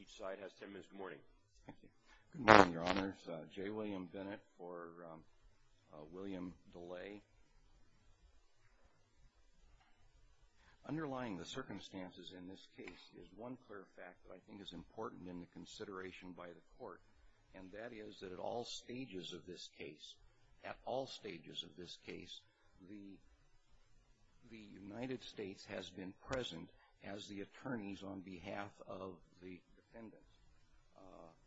Each side has ten minutes, good morning. Good morning, your honors. J. William Bennett for William Delay. Underlying the circumstances in this case is one clear fact that I think is important in the consideration by the court, and that is that at all stages of this case, at all stages of this case, the United States has been present as the attorneys on behalf of the defendants.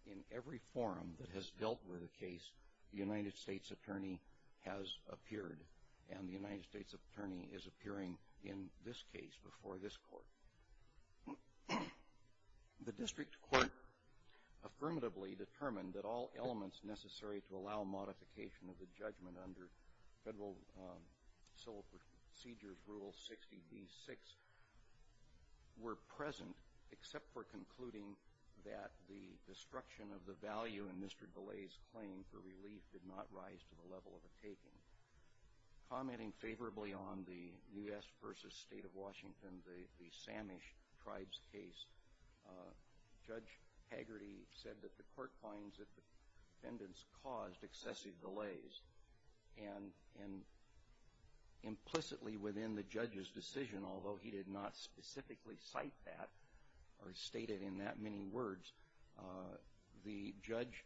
In every forum that has dealt with the case, the United States attorney has appeared, and the United States attorney is appearing in this case before this court. The district court affirmatively determined that all elements necessary to allow modification of the judgment under Federal Civil Procedures Rule 60b-6 were present, except for concluding that the destruction of the value in Mr. Delay's claim for relief did not rise to the level of a taking. Commenting favorably on the U.S. v. State of Washington, the Samish Tribes case, Judge Hagerty said that the court finds that the defendants caused excessive delays, and implicitly within the judge's decision, although he did not specifically cite that or state it in that many words, the judge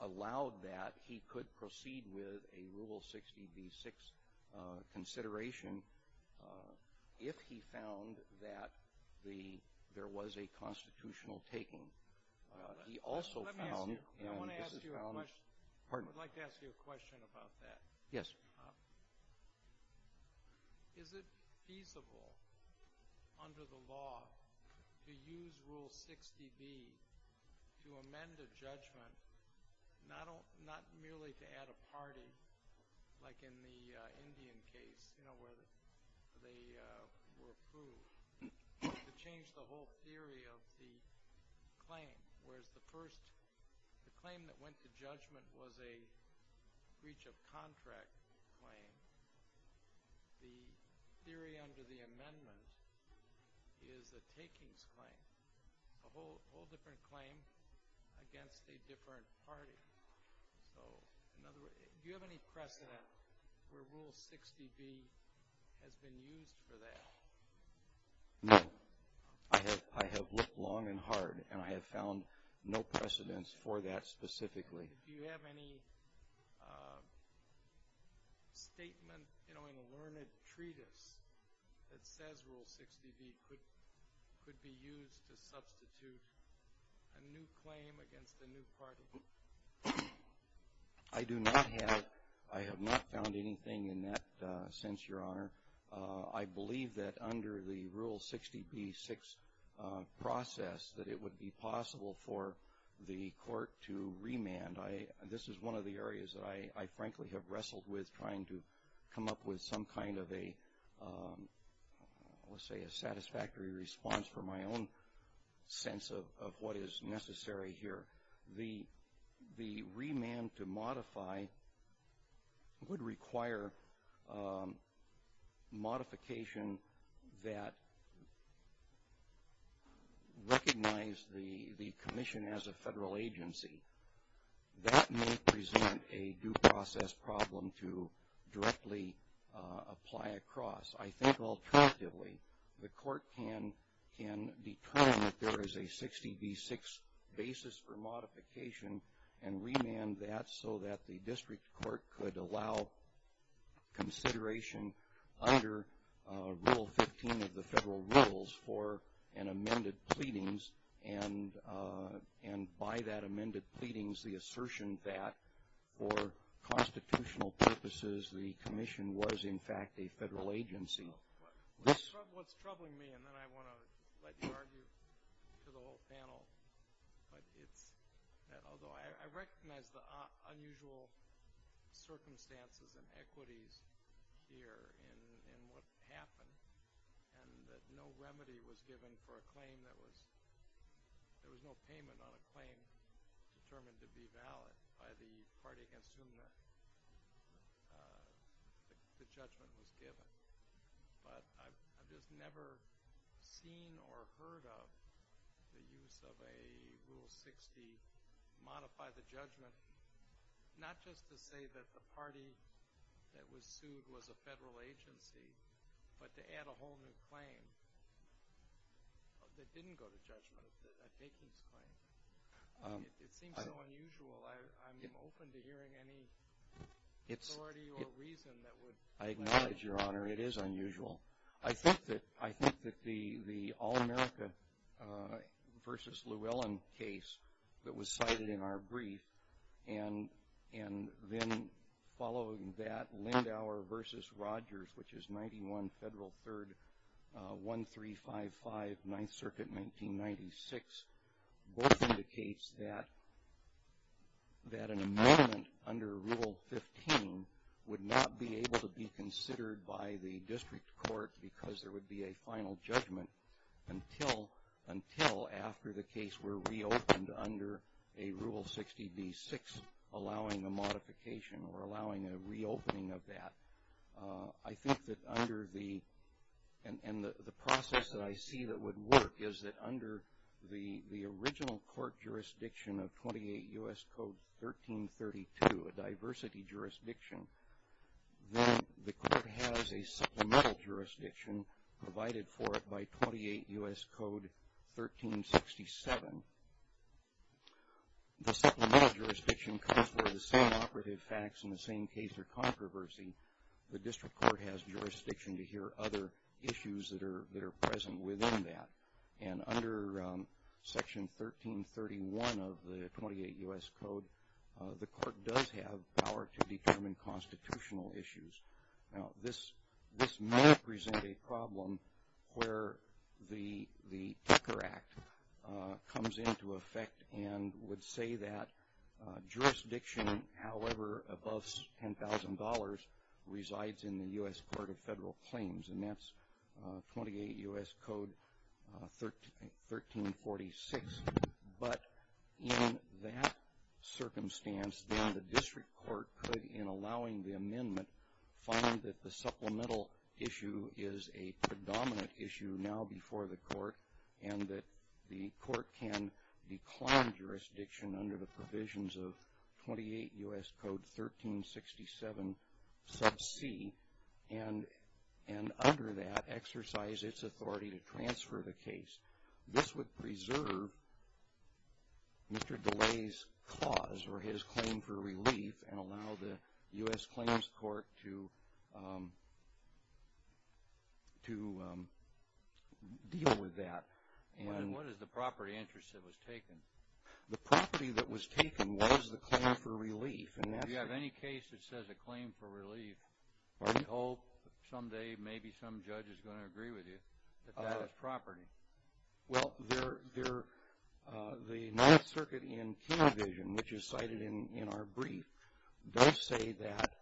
allowed that he could proceed with a Rule 60b-6 consideration if he found that there was a constitutional taking. I would like to ask you a question about that. Yes. Is it feasible under the law to use Rule 60b to amend a judgment, not merely to add a party like in the Indian case where they were approved, but to change the whole theory of the claim? Whereas the claim that went to judgment was a breach of contract claim, the theory under the amendment is a takings claim, a whole different claim against a different party. Do you have any precedent where Rule 60b has been used for that? No. I have looked long and hard, and I have found no precedents for that specifically. Do you have any statement in a learned treatise that says Rule 60b could be used to substitute a new claim against a new party? I do not have it. I have not found anything in that sense, Your Honor. I believe that under the Rule 60b-6 process that it would be possible for the court to remand. This is one of the areas that I, frankly, have wrestled with, trying to come up with some kind of a satisfactory response for my own sense of what is necessary here. The remand to modify would require modification that recognized the commission as a federal agency. That may present a due process problem to directly apply across. I think, alternatively, the court can determine that there is a 60b-6 basis for modification and remand that so that the district court could allow consideration under Rule 15 of the federal rules for an amended pleadings, and by that amended pleadings, the assertion that, for constitutional purposes, the commission was, in fact, a federal agency. What's troubling me, and then I want to let you argue to the whole panel, but it's that although I recognize the unusual circumstances and equities here in what happened and that no remedy was given for a claim that was, there was no payment on a claim determined to be valid by the party against whom the judgment was given, but I've just never seen or heard of the use of a Rule 60, modify the judgment, not just to say that the party that was sued was a federal agency, but to add a whole new claim that didn't go to judgment, a takings claim. It seems so unusual. I'm open to hearing any authority or reason that would... I acknowledge, Your Honor, it is unusual. I think that the All-America v. Llewellyn case that was cited in our brief and then following that Lindauer v. Rogers, which is 91 Federal 3rd, 1355, 9th Circuit, 1996, both indicates that an amendment under Rule 15 would not be able to be considered by the district court because there would be a final judgment until after the case were reopened under a Rule 60b-6, allowing a modification or allowing a reopening of that. I think that under the... and the process that I see that would work is that under the original court jurisdiction of 28 U.S. Code 1332, a diversity jurisdiction, then the court has a supplemental jurisdiction provided for it by 28 U.S. Code 1367. The supplemental jurisdiction comes for the same operative facts in the same case or controversy. The district court has jurisdiction to hear other issues that are present within that, and under Section 1331 of the 28 U.S. Code, the court does have power to determine constitutional issues. Now, this may present a problem where the Tucker Act comes into effect and would say that jurisdiction, however, above $10,000 resides in the U.S. Court of Federal Claims, and that's 28 U.S. Code 1346. But in that circumstance, then the district court could, in allowing the amendment, find that the supplemental issue is a predominant issue now before the court and that the court can decline jurisdiction under the provisions of 28 U.S. Code 1367 sub c and under that exercise its authority to transfer the case. This would preserve Mr. DeLay's cause or his claim for relief and allow the U.S. Claims Court to deal with that. What is the property interest that was taken? The property that was taken was the claim for relief. If you have any case that says a claim for relief, we hope someday maybe some judge is going to agree with you that that is property. Well, the Ninth Circuit in Key Division, which is cited in our brief, does say that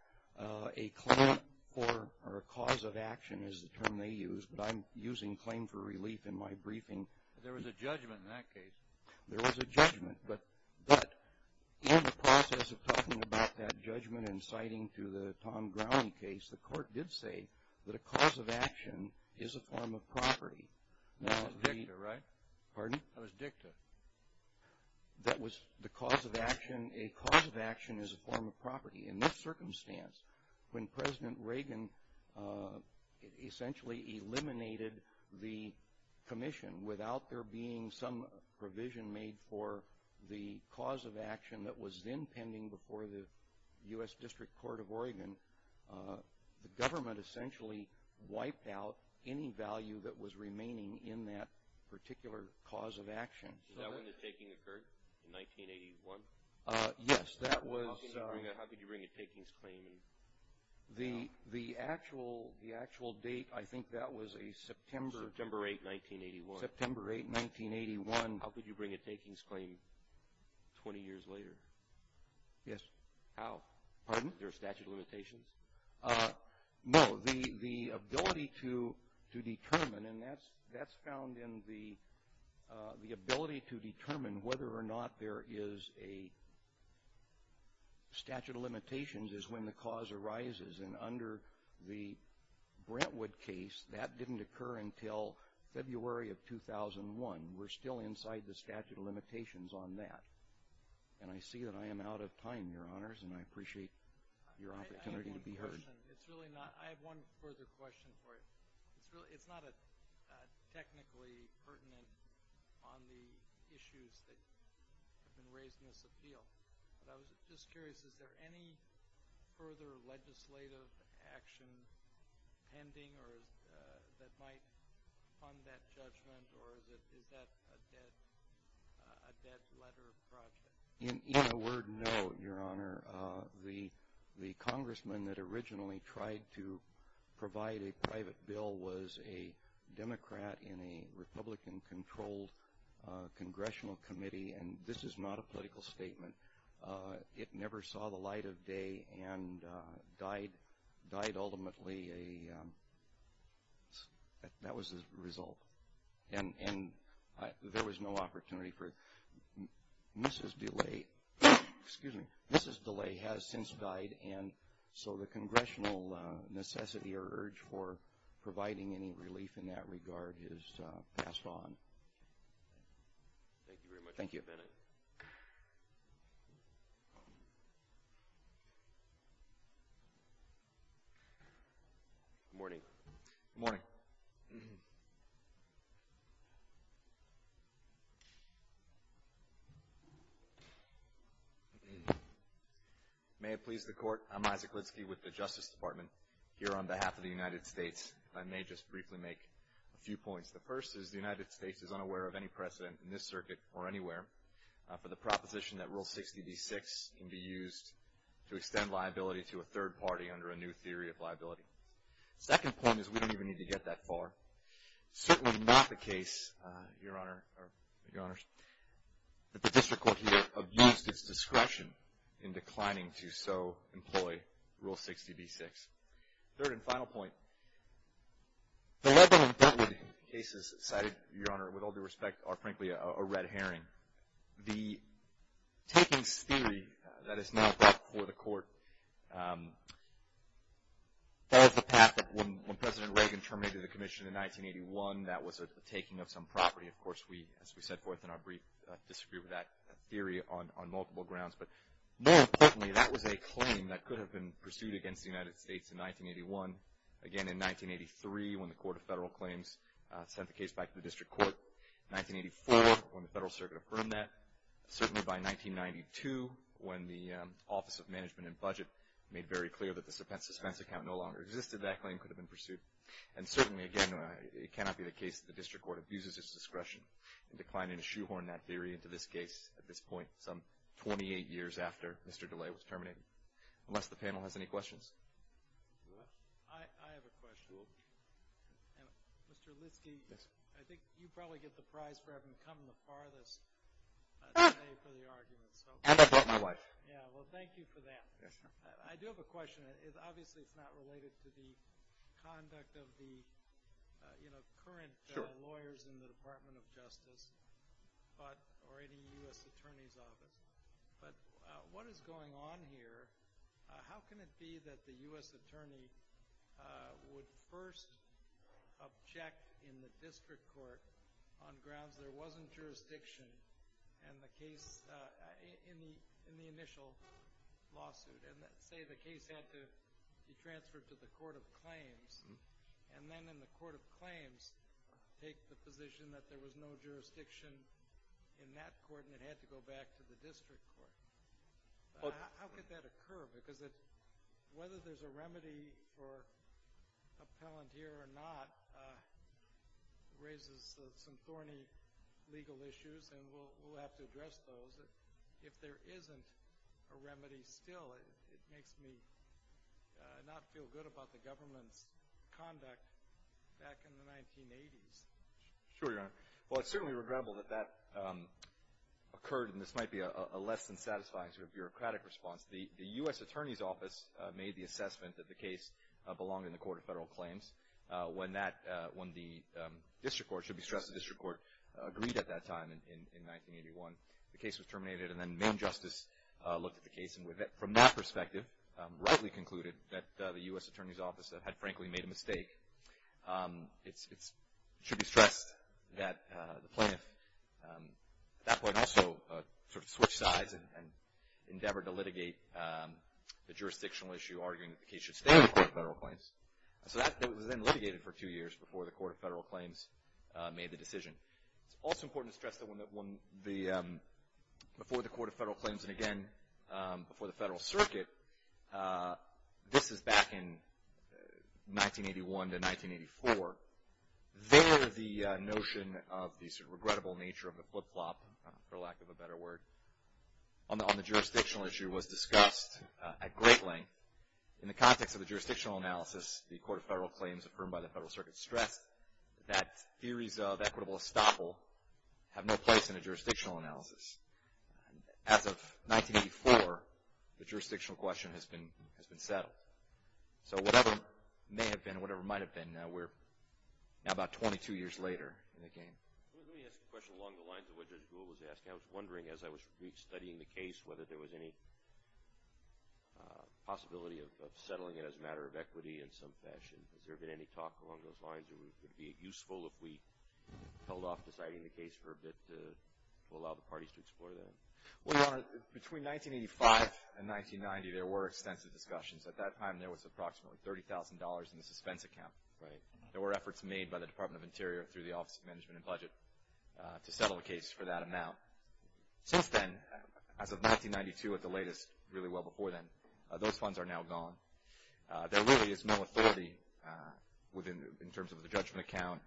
a claim for or a cause of action is the term they use, but I'm using claim for relief in my briefing. There was a judgment in that case. There was a judgment, but in the process of talking about that judgment and citing to the Tom Browning case, the court did say that a cause of action is a form of property. That was dicta, right? Pardon? That was dicta. That was the cause of action. A cause of action is a form of property. In this circumstance, when President Reagan essentially eliminated the commission without there being some provision made for the cause of action that was then pending before the U.S. District Court of Oregon, the government essentially wiped out any value that was remaining in that particular cause of action. Is that when the taking occurred, in 1981? Yes, that was. How could you bring a takings claim? The actual date, I think that was a September. September 8, 1981. September 8, 1981. How could you bring a takings claim 20 years later? Yes. How? Pardon? Is there a statute of limitations? No. The ability to determine, and that's found in the ability to determine whether or not there is a statute of limitations is when the cause arises. And under the Brentwood case, that didn't occur until February of 2001. We're still inside the statute of limitations on that. And I see that I am out of time, Your Honors, and I appreciate your opportunity to be heard. I have one question. I have one further question for you. It's not technically pertinent on the issues that have been raised in this appeal, but I was just curious, is there any further legislative action pending that might fund that judgment, or is that a dead letter project? In a word, no, Your Honor. The congressman that originally tried to provide a private bill was a Democrat in a Republican-controlled congressional committee, and this is not a political statement. It never saw the light of day and died ultimately. That was the result. And there was no opportunity for it. Mrs. DeLay has since died, and so the congressional necessity or urge for providing any relief in that regard is passed on. Thank you very much, Mr. Bennett. Thank you. Good morning. Good morning. May it please the Court, I'm Isaac Litsky with the Justice Department. Here on behalf of the United States, I may just briefly make a few points. The first is the United States is unaware of any precedent in this circuit or anywhere for the proposition that Rule 60b-6 can be used to extend liability to a third party under a new theory of liability. The second point is we don't even need to get that far. It's certainly not the case, Your Honor, that the district court here have used its discretion in declining to so employ Rule 60b-6. Third and final point, the Lebanon-Bentley cases cited, Your Honor, with all due respect, are frankly a red herring. The takings theory that is now brought before the Court follows the path that when President Reagan terminated the commission in 1981, that was a taking of some property. Of course, we, as we set forth in our brief, disagreed with that theory on multiple grounds. But more importantly, that was a claim that could have been pursued against the United States in 1981. Again, in 1983, when the Court of Federal Claims sent the case back to the district court. In 1984, when the Federal Circuit affirmed that. Certainly by 1992, when the Office of Management and Budget made very clear that the suspense account no longer existed, that claim could have been pursued. And certainly, again, it cannot be the case that the district court abuses its discretion in declining to shoehorn that theory into this case at this point, some 28 years after Mr. DeLay was terminated. Unless the panel has any questions. I have a question. Mr. Litsky, I think you probably get the prize for having come the farthest today for the argument. And I brought my wife. Yeah, well, thank you for that. I do have a question. Obviously, it's not related to the conduct of the current lawyers in the Department of Justice or any U.S. attorney's office. But what is going on here? How can it be that the U.S. attorney would first object in the district court on grounds there wasn't jurisdiction in the initial lawsuit and say the case had to be transferred to the court of claims, and then in the court of claims take the position that there was no jurisdiction in that court and it had to go back to the district court? How could that occur? Because whether there's a remedy for appellant here or not raises some thorny legal issues, and we'll have to address those. If there isn't a remedy still, it makes me not feel good about the government's conduct back in the 1980s. Sure, Your Honor. Well, it's certainly regrettable that that occurred, and this might be a less than satisfying sort of bureaucratic response. The U.S. attorney's office made the assessment that the case belonged in the court of federal claims. When the district court, it should be stressed the district court, agreed at that time in 1981, the case was terminated, and then main justice looked at the case, and from that perspective rightly concluded that the U.S. attorney's office had frankly made a mistake. It should be stressed that the plaintiff at that point also sort of switched sides and endeavored to litigate the jurisdictional issue, arguing that the case should stay in the court of federal claims. So that was then litigated for two years before the court of federal claims made the decision. It's also important to stress that before the court of federal claims and, again, before the federal circuit, this is back in 1981 to 1984. There the notion of the sort of regrettable nature of the flip-flop, for lack of a better word, on the jurisdictional issue was discussed at great length. In the context of the jurisdictional analysis, the court of federal claims affirmed by the federal circuit stressed that theories of equitable estoppel have no place in a jurisdictional analysis. As of 1984, the jurisdictional question has been settled. So whatever may have been and whatever might have been, we're now about 22 years later in the game. Let me ask a question along the lines of what Judge Gould was asking. I was wondering as I was studying the case whether there was any possibility of settling it as a matter of equity in some fashion. Has there been any talk along those lines? Would it be useful if we held off deciding the case for a bit to allow the parties to explore that? Well, Your Honor, between 1985 and 1990, there were extensive discussions. At that time, there was approximately $30,000 in the suspense account, right? There were efforts made by the Department of Interior through the Office of Management and Budget to settle the case for that amount. Since then, as of 1992 at the latest, really well before then, those funds are now gone. There really is no authority in terms of the judgment account.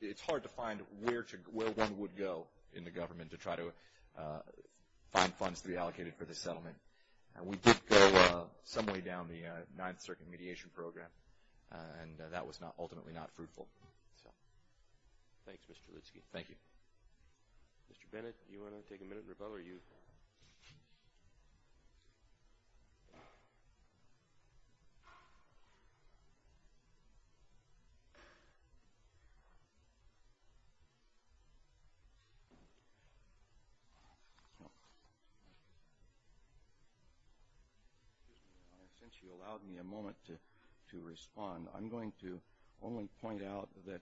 It's hard to find where one would go in the government to try to find funds to be allocated for the settlement. We did go some way down the Ninth Circuit mediation program, and that was ultimately not fruitful. Thanks, Mr. Lutsky. Thank you. Mr. Bennett, do you want to take a minute in rebuttal? Since you allowed me a moment to respond, I'm going to only point out that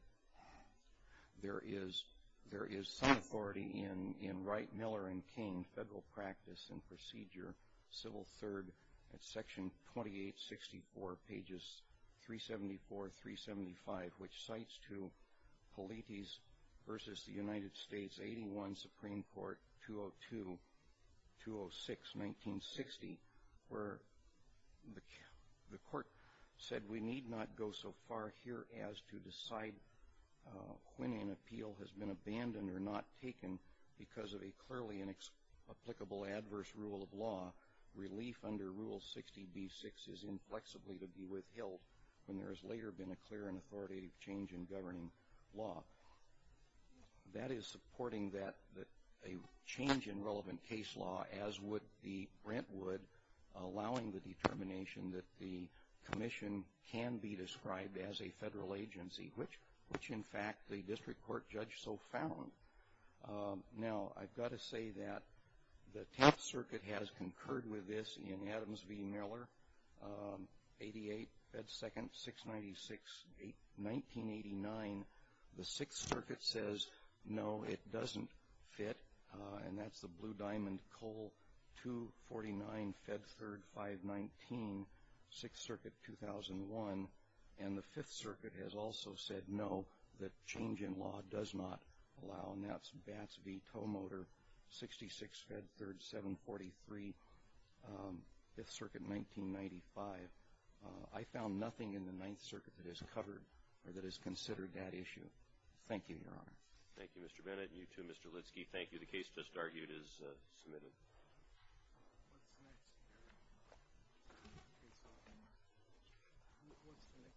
there is some authority in Wright, Miller, and Kane, Federal Practice and Procedure, Civil III, at Section 2864, pages 374, 375, which cites to Politis v. The United States, 81, Supreme Court, 202-206, 1960, where the court said we need not go so far here as to decide when an appeal has been abandoned or not taken because of a clearly inapplicable adverse rule of law. Relief under Rule 60b-6 is inflexibly to be withheld when there has later been a clear and authoritative change in governing law. That is supporting a change in relevant case law, as would the Brentwood, allowing the determination that the commission can be described as a federal agency, which, in fact, the district court judge so found. Now, I've got to say that the Tenth Circuit has concurred with this in Adams v. Miller, 88, Fed 2nd, 696, 1989. The Sixth Circuit says, no, it doesn't fit. And that's the Blue Diamond Coal, 249, Fed 3rd, 519, Sixth Circuit, 2001. And the Fifth Circuit has also said, no, the change in law does not allow. And that's Bats v. Tow Motor, 66, Fed 3rd, 743, Fifth Circuit, 1995. I found nothing in the Ninth Circuit that has covered or that has considered that issue. Thank you, Your Honor. Thank you, Mr. Bennett. And you too, Mr. Lidsky. Thank you. The case just argued is submitted. What's next? What's the next section? Thank you.